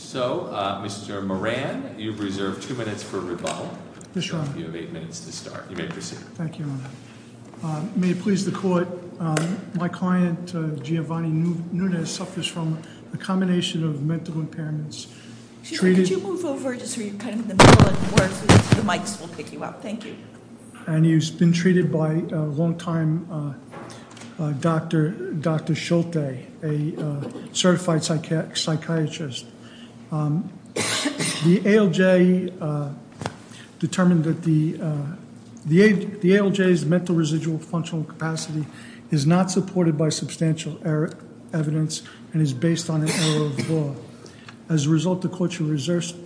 So, Mr. Moran, you've reserved two minutes for rebuttal, you have eight minutes to start. You may proceed. Thank you, Your Honor. May it please the court, my client Giovanni Nunez suffers from a combination of mental impairments. Could you move over just so you're kind of in the middle of the work so the mics will pick you up? Thank you. And he's been treated by a long time doctor, Dr. Schulte, a certified psychiatrist. The ALJ determined that the ALJ's mental residual functional capacity is not supported by substantial evidence and is based on an error of the law. As a result, the court should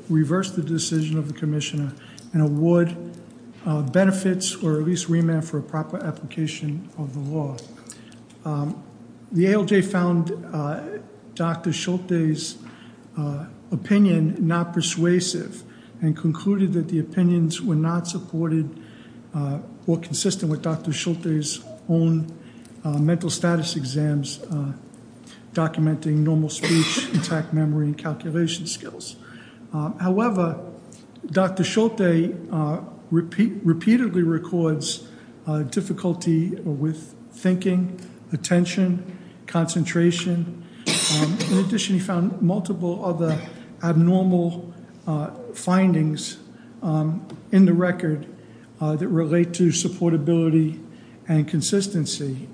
reverse the decision of the commissioner and award benefits or at least remand for a proper application of the law. The ALJ found Dr. Schulte's opinion not persuasive and concluded that the opinions were not supported or consistent with Dr. Schulte's own mental status exams documenting normal speech, memory, and calculation skills. However, Dr. Schulte repeatedly records difficulty with thinking, attention, concentration. In addition, he found multiple other abnormal findings in the record that relate to supportability and consistency.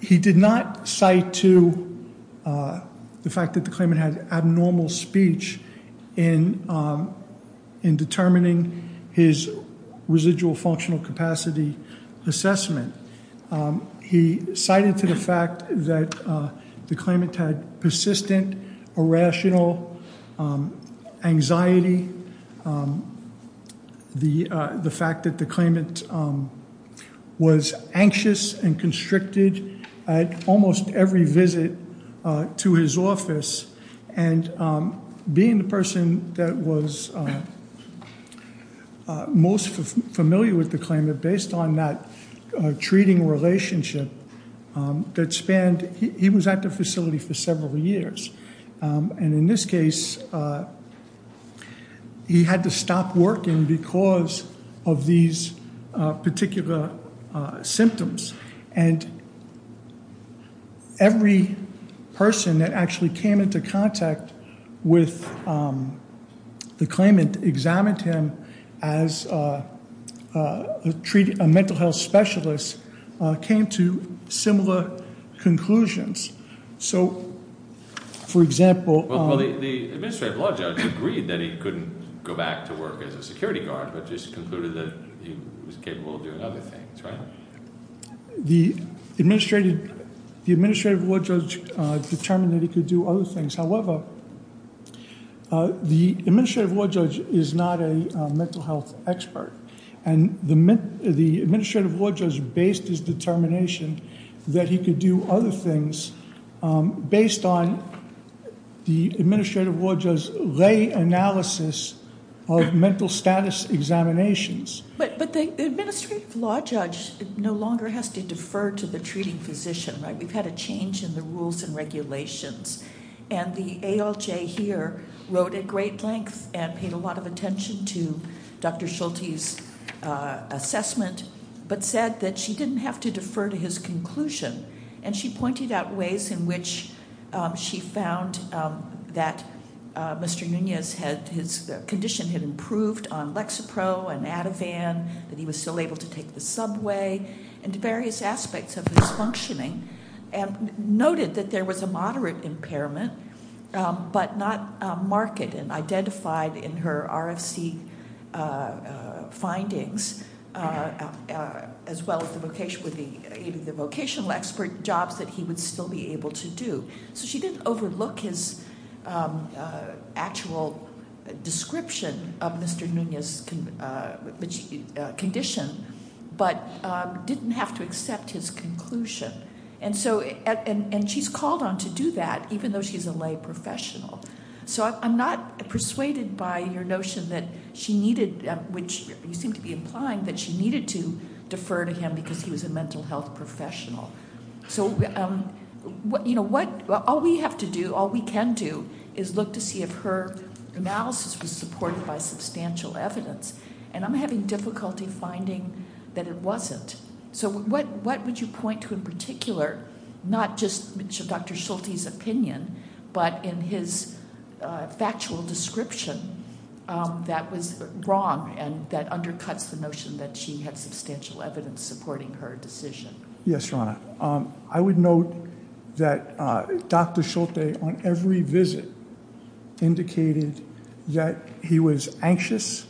He did not cite to the fact that the claimant had abnormal speech in determining his residual functional capacity assessment. He cited to the fact that the claimant had persistent, irrational anxiety, the fact that the claimant was anxious and constricted at almost every visit to his office, and being the person that was most familiar with the claimant based on that treating relationship that spanned, he was at the facility for several years. And in this case, he had to stop working because of these particular symptoms. And every person that actually came into contact with the claimant examined him as a mental health specialist came to similar conclusions. So, for example... Well, the administrative law judge agreed that he couldn't go back to work as a security guard, but just concluded that he was capable of doing other things, right? The administrative law judge determined that he could do other things. However, the administrative law judge is not a mental health expert. And the administrative law judge based his determination that he could do other things based on the administrative law judge's lay analysis of mental status examinations. But the administrative law judge no longer has to defer to the treating physician, right? We've had a change in the rules and regulations. And the ALJ here wrote at great length and paid a lot of attention to Dr. Schulte's assessment, but said that she didn't have to defer to his conclusion. And she pointed out ways in which she found that Mr. Nunez's condition had improved on Lexapro and Ativan, that he was still able to take the subway, and various aspects of his functioning. And noted that there was a moderate impairment, but not marked and identified in her RFC findings. As well as the vocational expert jobs that he would still be able to do. So she didn't overlook his actual description of Mr. Nunez's condition, but didn't have to accept his conclusion. And she's called on to do that, even though she's a lay professional. So I'm not persuaded by your notion that she needed, which you seem to be implying, that she needed to defer to him because he was a mental health professional. So all we have to do, all we can do, is look to see if her analysis was supported by substantial evidence. And I'm having difficulty finding that it wasn't. So what would you point to in particular, not just Dr. Schulte's opinion, but in his factual description that was wrong, and that undercuts the notion that she had substantial evidence supporting her decision? Yes, Your Honor. I would note that Dr. Schulte, on every visit, indicated that he was anxious,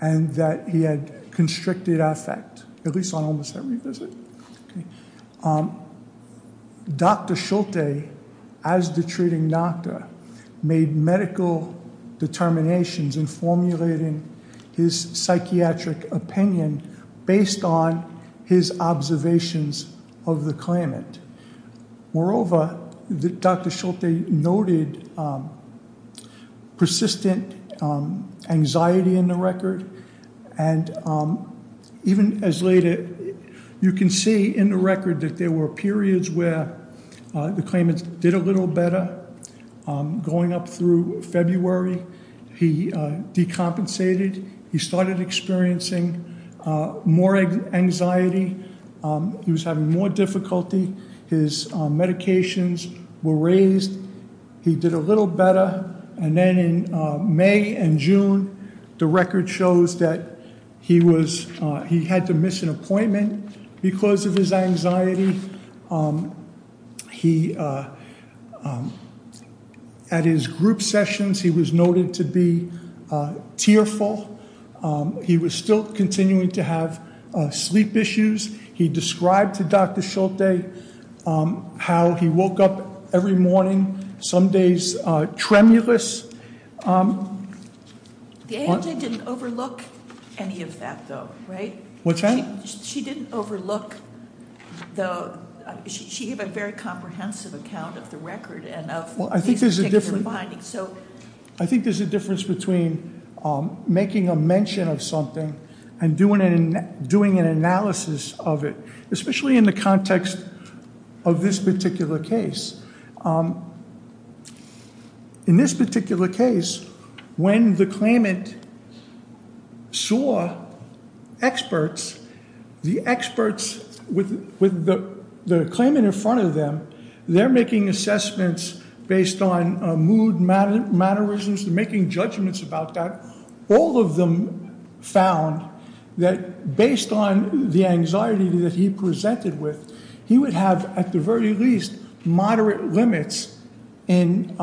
and that he had constricted affect, at least on almost every visit. Dr. Schulte, as the treating doctor, made medical determinations in formulating his psychiatric opinion based on his observations of the claimant. Moreover, Dr. Schulte noted persistent anxiety in the record. And even as later, you can see in the record that there were periods where the claimant did a little better. Going up through February, he decompensated. He started experiencing more anxiety. He was having more difficulty. His medications were raised. He did a little better. And then in May and June, the record shows that he had to miss an appointment because of his anxiety. At his group sessions, he was noted to be tearful. He was still continuing to have sleep issues. He described to Dr. Schulte how he woke up every morning, some days tremulous. The AMJ didn't overlook any of that though, right? What's that? She didn't overlook the, she gave a very comprehensive account of the record and of these particular findings. I think there's a difference between making a mention of something and doing an analysis of it, especially in the context of this particular case. In this particular case, when the claimant saw experts, the experts with the claimant in front of them, they're making assessments based on mood mannerisms. They're making judgments about that. All of them found that based on the anxiety that he presented with, he would have at the very least moderate limits in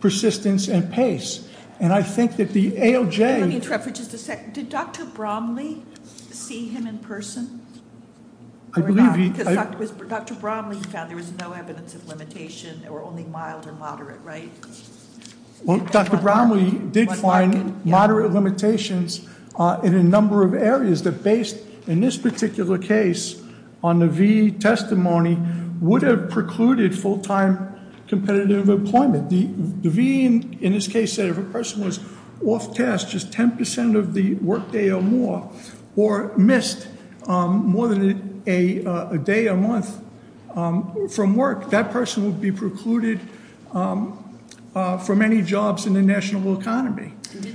persistence and pace. And I think that the ALJ- Let me interrupt for just a second. Did Dr. Bromley see him in person? I believe he- Dr. Bromley found there was no evidence of limitation. There were only mild or moderate, right? Well, Dr. Bromley did find moderate limitations in a number of areas that based in this particular case on the V testimony would have precluded full time competitive employment. The V in this case said if a person was off task just 10% of the work day or more or missed more than a day a month from work, that person would be precluded from any jobs in the national economy. I think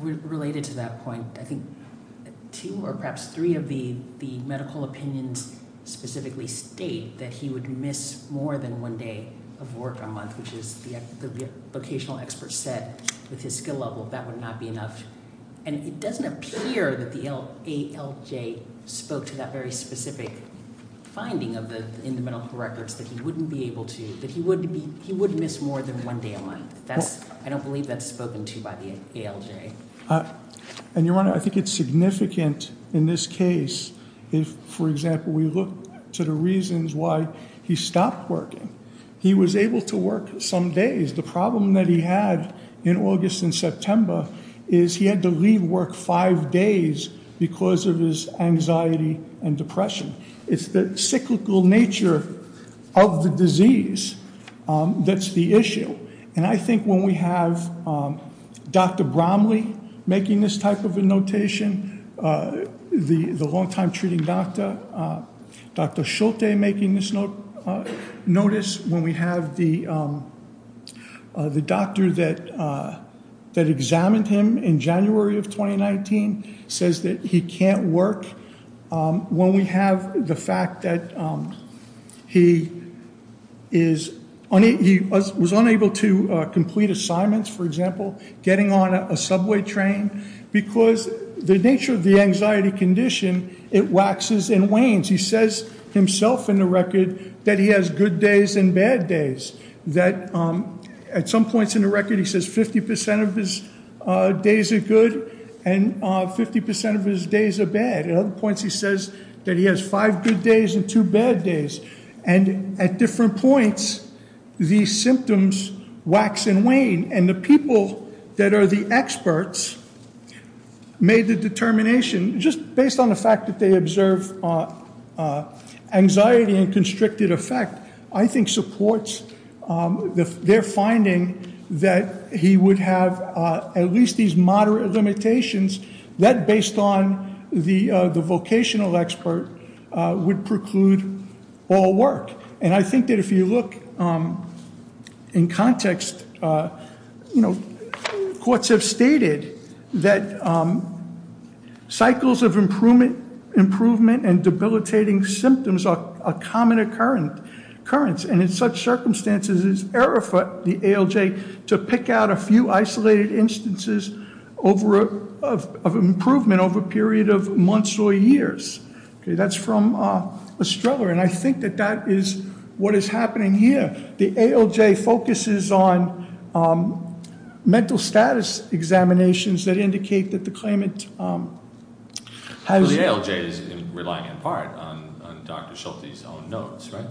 related to that point, I think two or perhaps three of the medical opinions specifically state that he would miss more than one day of work a month, which is the vocational expert said with his skill level that would not be enough. And it doesn't appear that the ALJ spoke to that very specific finding in the medical records that he wouldn't be able to, that he wouldn't miss more than one day a month. I don't believe that's spoken to by the ALJ. And I think it's significant in this case if, for example, we look to the reasons why he stopped working. He was able to work some days. The problem that he had in August and September is he had to leave work five days because of his anxiety and depression. It's the cyclical nature of the disease that's the issue. And I think when we have Dr. Bromley making this type of a notation, the long-time treating doctor, Dr. Schulte making this notice, when we have the doctor that examined him in January of 2019 says that he can't work, when we have the fact that he was unable to complete assignments, for example, getting on a subway train, because the nature of the anxiety condition, it waxes and wanes. He says himself in the record that he has good days and bad days, that at some points in the record he says 50% of his days are good and 50% of his days are bad. At other points he says that he has five good days and two bad days. And the people that are the experts made the determination, just based on the fact that they observe anxiety and constricted effect, I think supports their finding that he would have at least these moderate limitations that based on the vocational expert would preclude all work. And I think that if you look in context, courts have stated that cycles of improvement and debilitating symptoms are a common occurrence. And in such circumstances it's error for the ALJ to pick out a few isolated instances of improvement over a period of months or years. That's from Estrella. And I think that that is what is happening here. The ALJ focuses on mental status examinations that indicate that the claimant has... So the ALJ is relying in part on Dr. Schulte's own notes, right?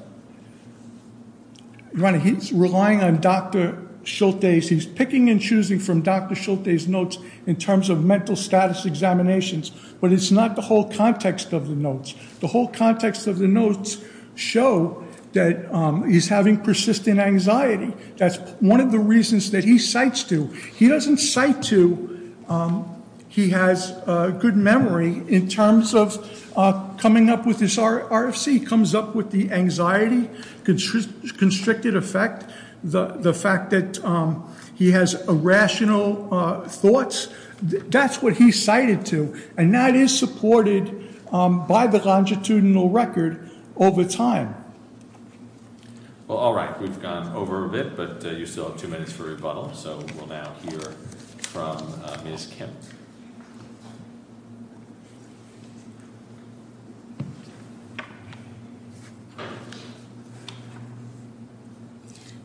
He's relying on Dr. Schulte's. He's picking and choosing from Dr. Schulte's notes in terms of mental status examinations. But it's not the whole context of the notes. The whole context of the notes show that he's having persistent anxiety. That's one of the reasons that he cites to. He doesn't cite to he has good memory in terms of coming up with his RFC, comes up with the anxiety, constricted effect, the fact that he has irrational thoughts. That's what he cited to. And that is supported by the longitudinal record over time. Well, all right. We've gone over a bit, but you still have two minutes for rebuttal. So we'll now hear from Ms. Kim.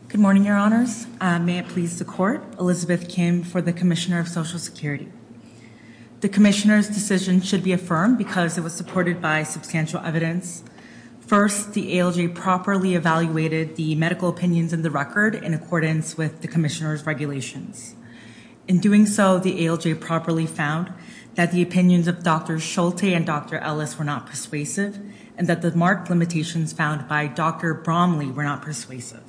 Good morning, Your Honors. May it please the Court. Elizabeth Kim for the Commissioner of Social Security. The Commissioner's decision should be affirmed because it was supported by substantial evidence. First, the ALJ properly evaluated the medical opinions in the record in accordance with the Commissioner's regulations. In doing so, the ALJ properly found that the opinions of Dr. Schulte and Dr. Ellis were not persuasive and that the marked limitations found by Dr. Bromley were not persuasive.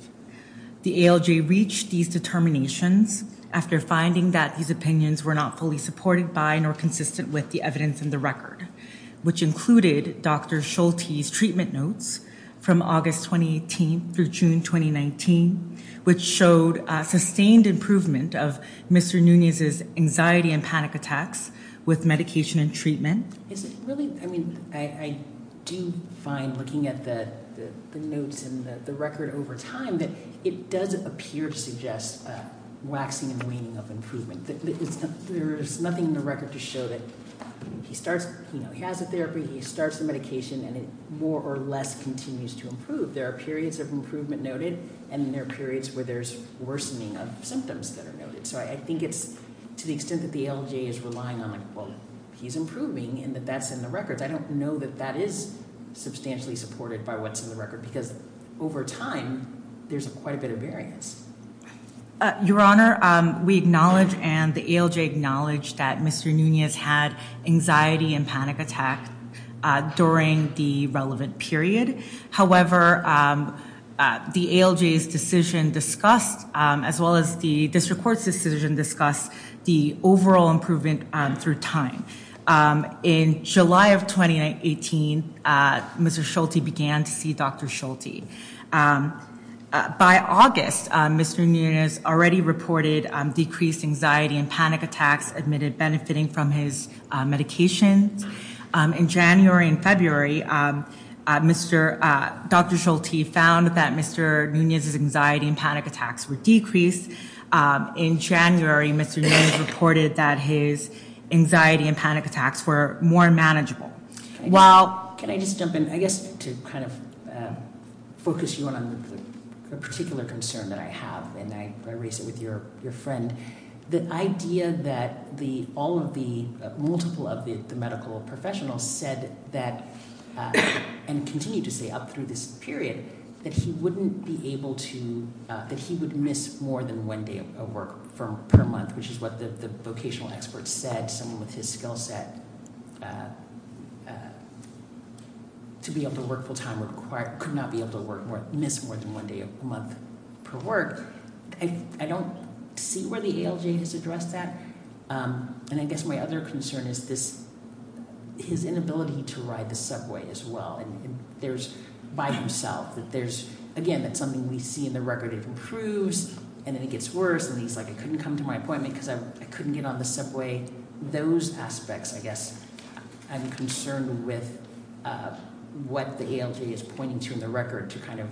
The ALJ reached these determinations after finding that these opinions were not fully supported by nor consistent with the evidence in the record, which included Dr. Schulte's treatment notes from August 2018 through June 2019, which showed a sustained improvement of Mr. Nunez's anxiety and panic attacks with medication and treatment. I do find, looking at the notes in the record over time, that it does appear to suggest waxing and waning of improvement. There's nothing in the record to show that he has the therapy, he starts the medication, and it more or less continues to improve. There are periods of improvement noted, and there are periods where there's worsening of symptoms that are noted. So I think it's to the extent that the ALJ is relying on, like, well, he's improving and that that's in the records, I don't know that that is substantially supported by what's in the record, because over time, there's quite a bit of variance. Your Honor, we acknowledge and the ALJ acknowledge that Mr. Nunez had anxiety and panic attacks during the relevant period. However, the ALJ's decision discussed, as well as the district court's decision discussed, the overall improvement through time. In July of 2018, Mr. Schulte began to see Dr. Schulte. By August, Mr. Nunez already reported decreased anxiety and panic attacks admitted benefiting from his medications. In January and February, Dr. Schulte found that Mr. Nunez's anxiety and panic attacks were decreased. In January, Mr. Nunez reported that his anxiety and panic attacks were more manageable. While – can I just jump in, I guess, to kind of focus you on a particular concern that I have, and I raise it with your friend. The idea that all of the – multiple of the medical professionals said that – and continue to say up through this period – that he wouldn't be able to – that he would miss more than one day of work per month, which is what the vocational experts said. Someone with his skill set to be able to work full-time could not be able to miss more than one day a month per work. I don't see where the ALJ has addressed that. And I guess my other concern is this – his inability to ride the subway as well. And there's – by himself, that there's – again, that's something we see in the record. It improves, and then it gets worse, and he's like, I couldn't come to my appointment because I couldn't get on the subway. Those aspects, I guess, I'm concerned with what the ALJ is pointing to in the record to kind of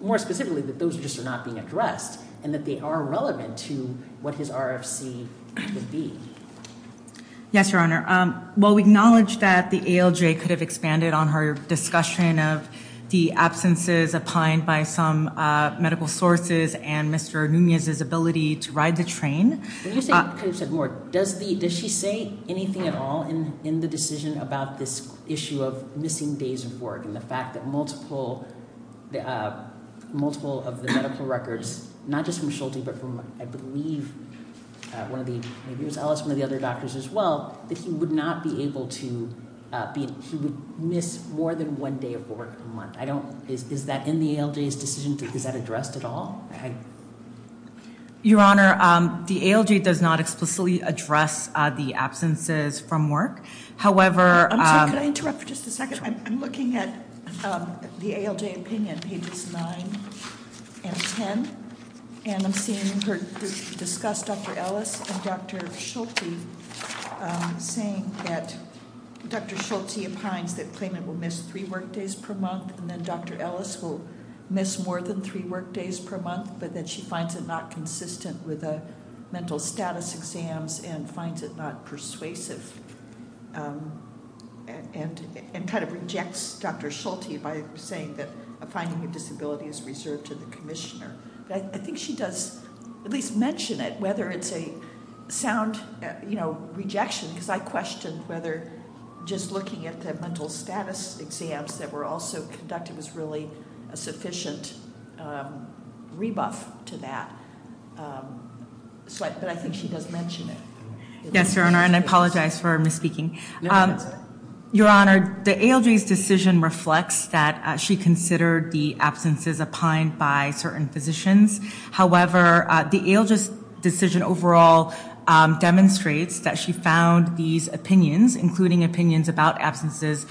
– more specifically, that those just are not being addressed and that they are relevant to what his RFC would be. Yes, Your Honor. Well, we acknowledge that the ALJ could have expanded on her discussion of the absences opined by some medical sources and Mr. Núñez's ability to ride the train. When you say he could have said more, does the – does she say anything at all in the decision about this issue of missing days of work and the fact that multiple of the medical records, not just from Schulte but from, I believe, one of the – maybe it was Ellis, one of the other doctors as well, that he would not be able to be – he would miss more than one day of work a month? I don't – is that in the ALJ's decision? Is that addressed at all? Your Honor, the ALJ does not explicitly address the absences from work. However – I'm looking at the ALJ opinion, pages 9 and 10, and I'm seeing her discuss Dr. Ellis and Dr. Schulte, saying that Dr. Schulte opines that Clayman will miss three workdays per month and then Dr. Ellis will miss more than three workdays per month, but that she finds it not consistent with the mental status exams and finds it not persuasive and kind of rejects Dr. Schulte by saying that a finding of disability is reserved to the commissioner. But I think she does at least mention it, whether it's a sound rejection, because I questioned whether just looking at the mental status exams that were also conducted was really a sufficient rebuff to that. But I think she does mention it. Yes, Your Honor, and I apologize for misspeaking. No, that's all right. Your Honor, the ALJ's decision reflects that she considered the absences opined by certain physicians. However, the ALJ's decision overall demonstrates that she found these opinions, including opinions about absences,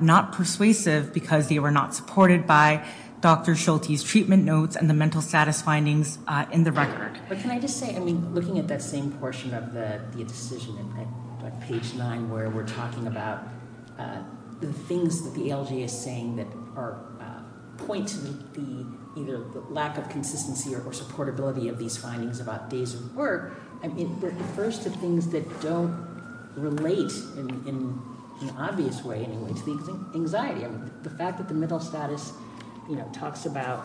not persuasive because they were not supported by Dr. Schulte's treatment notes and the mental status findings in the record. But can I just say, I mean, looking at that same portion of the decision on page nine where we're talking about the things that the ALJ is saying that point to the lack of consistency or supportability of these findings about days of work, it refers to things that don't relate in an obvious way anyway to the anxiety. I mean, the fact that the mental status, you know, talks about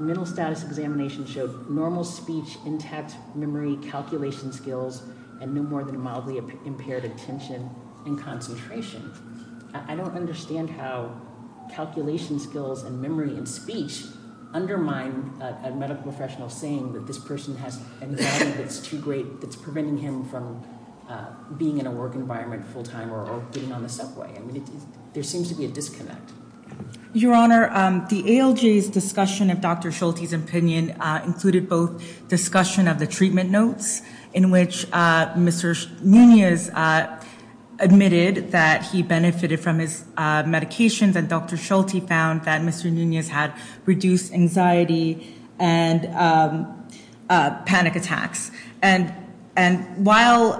mental status examination showed normal speech, intact memory, calculation skills, and no more than a mildly impaired attention and concentration. I don't understand how calculation skills and memory and speech undermine a medical professional saying that this person has anxiety that's too great, that's preventing him from being in a work environment full time or getting on the subway. I mean, there seems to be a disconnect. Your Honor, the ALJ's discussion of Dr. Schulte's opinion included both discussion of the treatment notes in which Mr. Nunez admitted that he benefited from his medications and Dr. Schulte found that Mr. Nunez had reduced anxiety and panic attacks. And while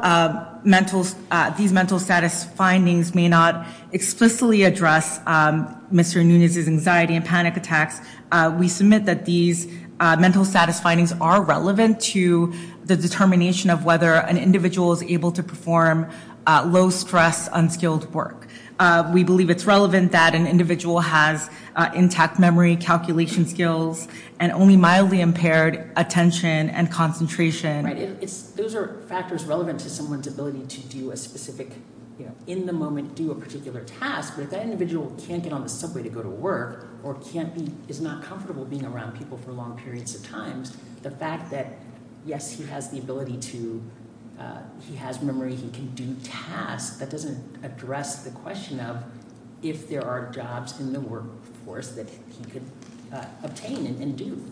these mental status findings may not explicitly address Mr. Nunez's anxiety and panic attacks, we submit that these mental status findings are relevant to the determination of whether an individual is able to perform low stress, unskilled work. We believe it's relevant that an individual has intact memory, calculation skills, and only mildly impaired attention and concentration. Those are factors relevant to someone's ability to do a specific, in the moment, do a particular task. But if that individual can't get on the subway to go to work or is not comfortable being around people for long periods of time, the fact that yes, he has the ability to, he has memory, he can do tasks, that doesn't address the question of if there are jobs in the workforce that he could obtain and do.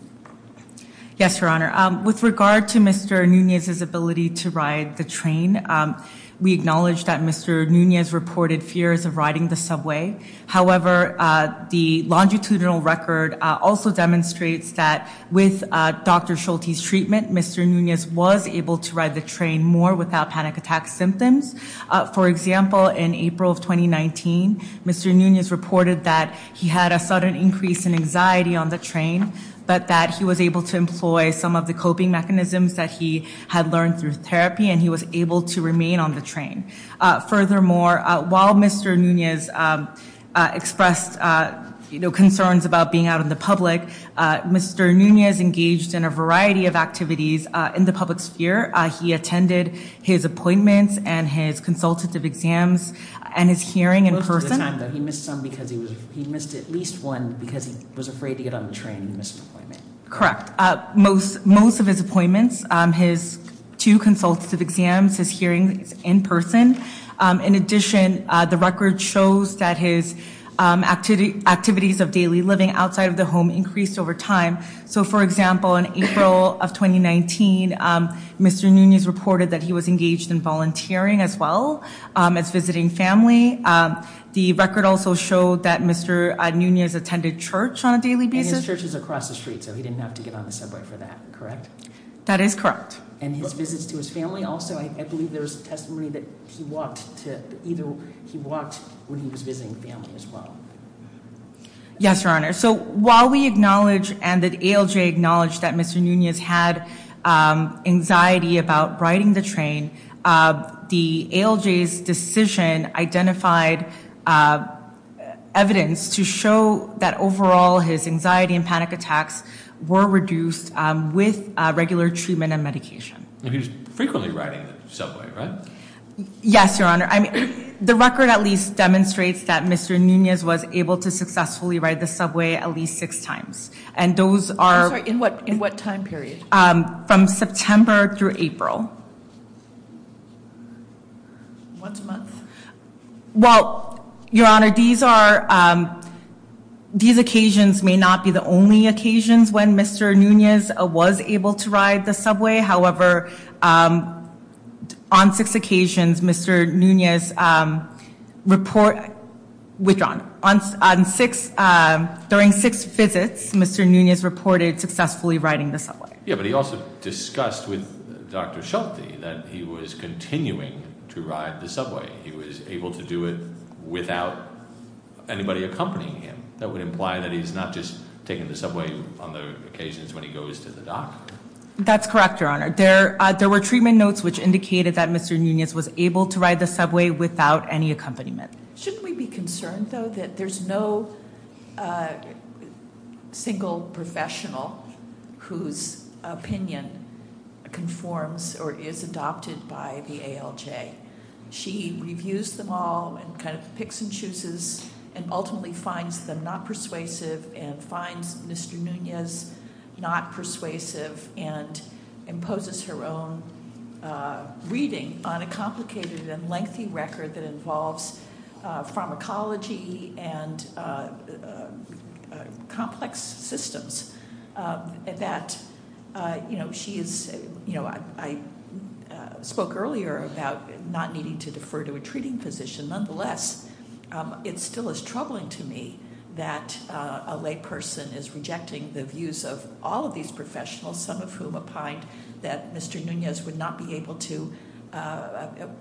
Yes, Your Honor. With regard to Mr. Nunez's ability to ride the train, we acknowledge that Mr. Nunez reported fears of riding the subway. However, the longitudinal record also demonstrates that with Dr. Schulte's treatment, Mr. Nunez was able to ride the train more without panic attack symptoms. For example, in April of 2019, Mr. Nunez reported that he had a sudden increase in anxiety on the train, but that he was able to employ some of the coping mechanisms that he had learned through therapy, and he was able to remain on the train. Furthermore, while Mr. Nunez expressed concerns about being out in the public, Mr. Nunez engaged in a variety of activities in the public sphere. He attended his appointments and his consultative exams and his hearing in person. Most of the time, though, he missed some because he was, he missed at least one because he was afraid to get on the train and missed an appointment. Correct. Most of his appointments, his two consultative exams, his hearings in person. In addition, the record shows that his activities of daily living outside of the home increased over time. So, for example, in April of 2019, Mr. Nunez reported that he was engaged in volunteering as well as visiting family. The record also showed that Mr. Nunez attended church on a daily basis. And his church is across the street, so he didn't have to get on the subway for that, correct? That is correct. And his visits to his family also? I believe there was testimony that he walked to, either he walked when he was visiting family as well. Yes, Your Honor. So while we acknowledge and the ALJ acknowledged that Mr. Nunez had anxiety about riding the train, the ALJ's decision identified evidence to show that overall his anxiety and panic attacks were reduced with regular treatment and medication. And he was frequently riding the subway, right? Yes, Your Honor. I mean, the record at least demonstrates that Mr. Nunez was able to successfully ride the subway at least six times. And those are... I'm sorry, in what time period? From September through April. Once a month? Well, Your Honor, these are, these occasions may not be the only occasions when Mr. Nunez was able to ride the subway. However, on six occasions, Mr. Nunez reported, withdrawn. On six, during six visits, Mr. Nunez reported successfully riding the subway. Yeah, but he also discussed with Dr. Schulte that he was continuing to ride the subway. He was able to do it without anybody accompanying him. That would imply that he's not just taking the subway on the occasions when he goes to the doctor. That's correct, Your Honor. There were treatment notes which indicated that Mr. Nunez was able to ride the subway without any accompaniment. Shouldn't we be concerned, though, that there's no single professional whose opinion conforms or is adopted by the ALJ? She reviews them all and kind of picks and chooses and ultimately finds them not persuasive and finds Mr. Nunez not persuasive and imposes her own reading on a complicated and lengthy record that involves pharmacology and complex systems. That she is, I spoke earlier about not needing to defer to a treating physician. Nonetheless, it still is troubling to me that a lay person is rejecting the views of all of these professionals, some of whom opined that Mr. Nunez would not be able to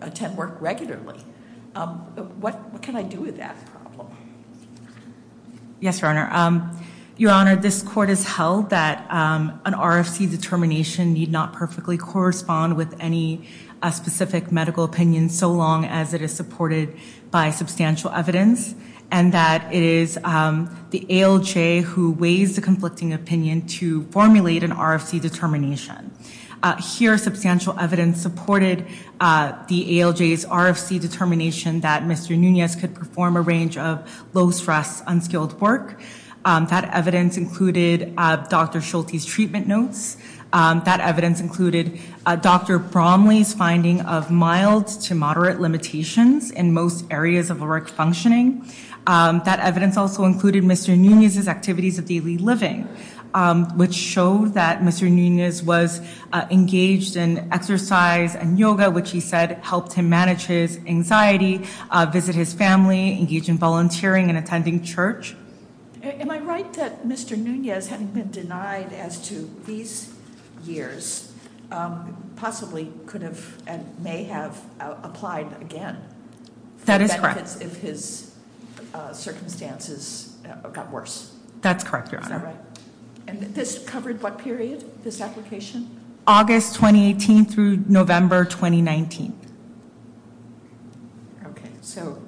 attend work regularly. What can I do with that problem? Yes, Your Honor. Your Honor, this court has held that an RFC determination need not perfectly correspond with any specific medical opinion so long as it is supported by substantial evidence and that it is the ALJ who weighs the conflicting opinion to formulate an RFC determination. Here, substantial evidence supported the ALJ's RFC determination that Mr. Nunez could perform a range of low stress, unskilled work. That evidence included Dr. Schulte's treatment notes. That evidence included Dr. Bromley's finding of mild to moderate limitations in most areas of erect functioning. That evidence also included Mr. Nunez's activities of daily living, which showed that Mr. Nunez was engaged in exercise and yoga, which he said helped him manage his anxiety, visit his family, engage in volunteering and attending church. Am I right that Mr. Nunez, having been denied as to these years, possibly could have and may have applied again? That is correct. If his circumstances got worse? That's correct, Your Honor. Is that right? And this covered what period, this application? August 2018 through November 2019. Okay, so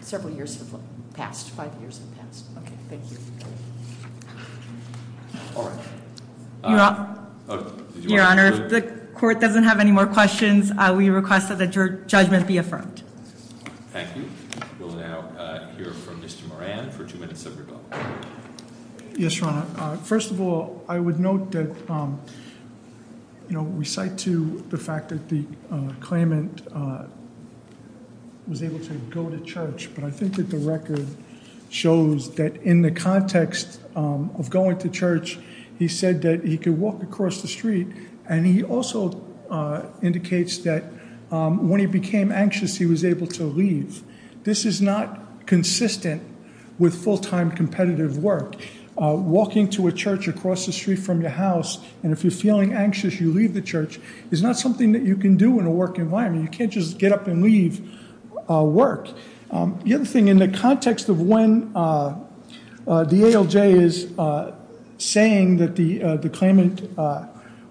several years have passed, five years have passed. Okay, thank you. All right. Your Honor, if the court doesn't have any more questions, we request that the judgment be affirmed. Thank you. We'll now hear from Mr. Moran for two minutes of rebuttal. Yes, Your Honor. First of all, I would note that we cite to the fact that the claimant was able to go to church, but I think that the record shows that in the context of going to church, he said that he could walk across the street, and he also indicates that when he became anxious, he was able to leave. This is not consistent with full-time competitive work. Walking to a church across the street from your house, and if you're feeling anxious, you leave the church, is not something that you can do in a work environment. You can't just get up and leave work. The other thing, in the context of when the ALJ is saying that the claimant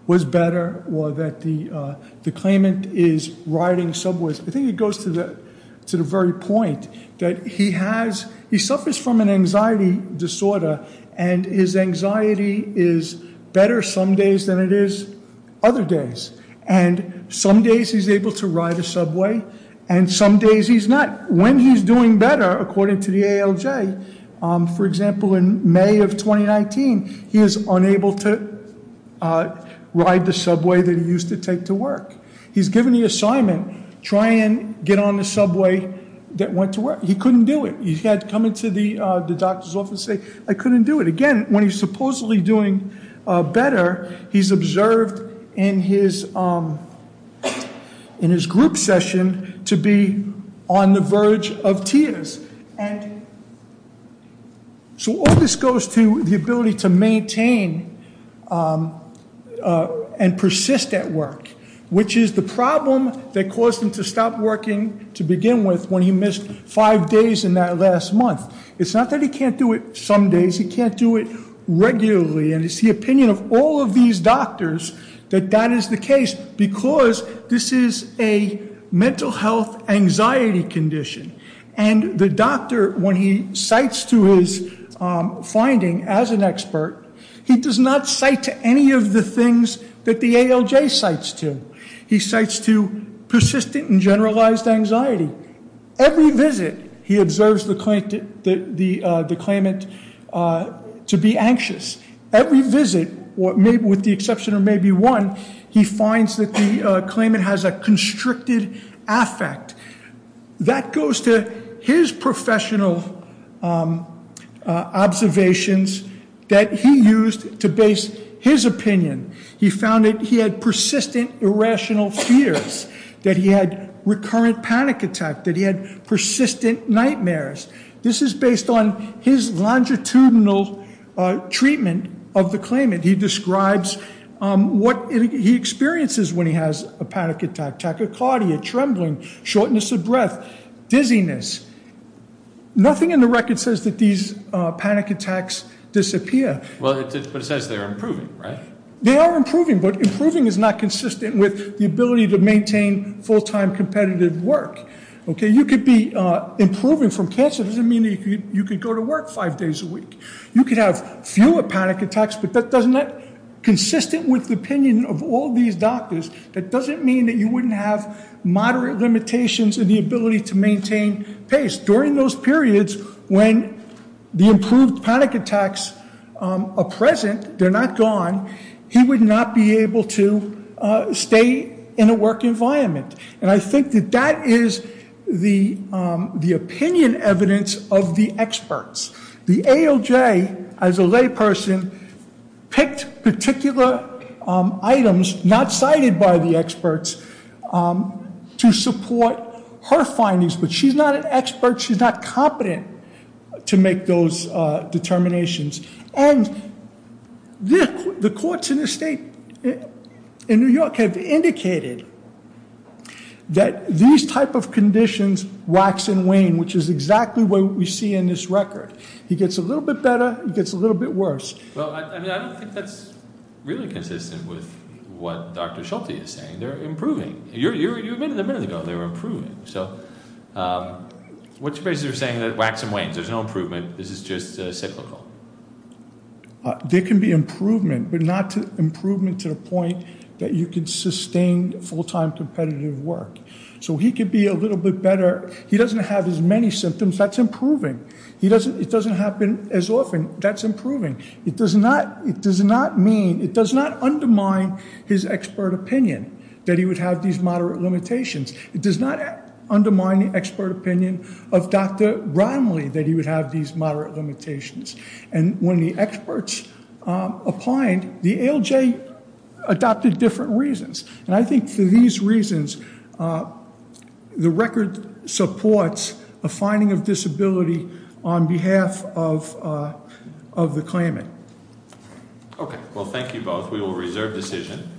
was better or that the claimant is riding subways, I think it goes to the very point that he suffers from an anxiety disorder, and his anxiety is better some days than it is other days. And some days he's able to ride a subway, and some days he's not. When he's doing better, according to the ALJ, for example, in May of 2019, he was unable to ride the subway that he used to take to work. He's given the assignment, try and get on the subway that went to work. He couldn't do it. He had to come into the doctor's office and say, I couldn't do it. And again, when he's supposedly doing better, he's observed in his group session to be on the verge of tears. So all this goes to the ability to maintain and persist at work, which is the problem that caused him to stop working to begin with when he missed five days in that last month. It's not that he can't do it some days. He can't do it regularly. And it's the opinion of all of these doctors that that is the case, because this is a mental health anxiety condition. And the doctor, when he cites to his finding as an expert, he does not cite to any of the things that the ALJ cites to. He cites to persistent and generalized anxiety. Every visit, he observes the claimant to be anxious. Every visit, with the exception of maybe one, he finds that the claimant has a constricted affect. That goes to his professional observations that he used to base his opinion. He found that he had persistent irrational fears, that he had recurrent panic attack, that he had persistent nightmares. This is based on his longitudinal treatment of the claimant. He describes what he experiences when he has a panic attack, tachycardia, trembling, shortness of breath, dizziness. Nothing in the record says that these panic attacks disappear. Well, but it says they're improving, right? They are improving, but improving is not consistent with the ability to maintain full-time competitive work. Okay, you could be improving from cancer. It doesn't mean that you could go to work five days a week. You could have fewer panic attacks, but doesn't that, consistent with the opinion of all these doctors, that doesn't mean that you wouldn't have moderate limitations in the ability to maintain pace. During those periods, when the improved panic attacks are present, they're not gone, he would not be able to stay in a work environment. And I think that that is the opinion evidence of the experts. The ALJ, as a layperson, picked particular items not cited by the experts to support her findings, but she's not an expert. She's not competent to make those determinations. And the courts in the state, in New York, have indicated that these type of conditions wax and wane, which is exactly what we see in this record. He gets a little bit better, he gets a little bit worse. Well, I mean, I don't think that's really consistent with what Dr. Schulte is saying. They're improving. You admitted a minute ago they were improving. So what's your basis for saying that wax and wanes, there's no improvement, this is just cyclical? There can be improvement, but not improvement to the point that you can sustain full-time competitive work. So he could be a little bit better. He doesn't have as many symptoms, that's improving. It doesn't happen as often, that's improving. It does not undermine his expert opinion that he would have these moderate limitations. It does not undermine the expert opinion of Dr. Bromley that he would have these moderate limitations. And when the experts applied, the ALJ adopted different reasons. And I think for these reasons, the record supports a finding of disability on behalf of the claimant. Okay. Well, thank you both. We will reserve decision.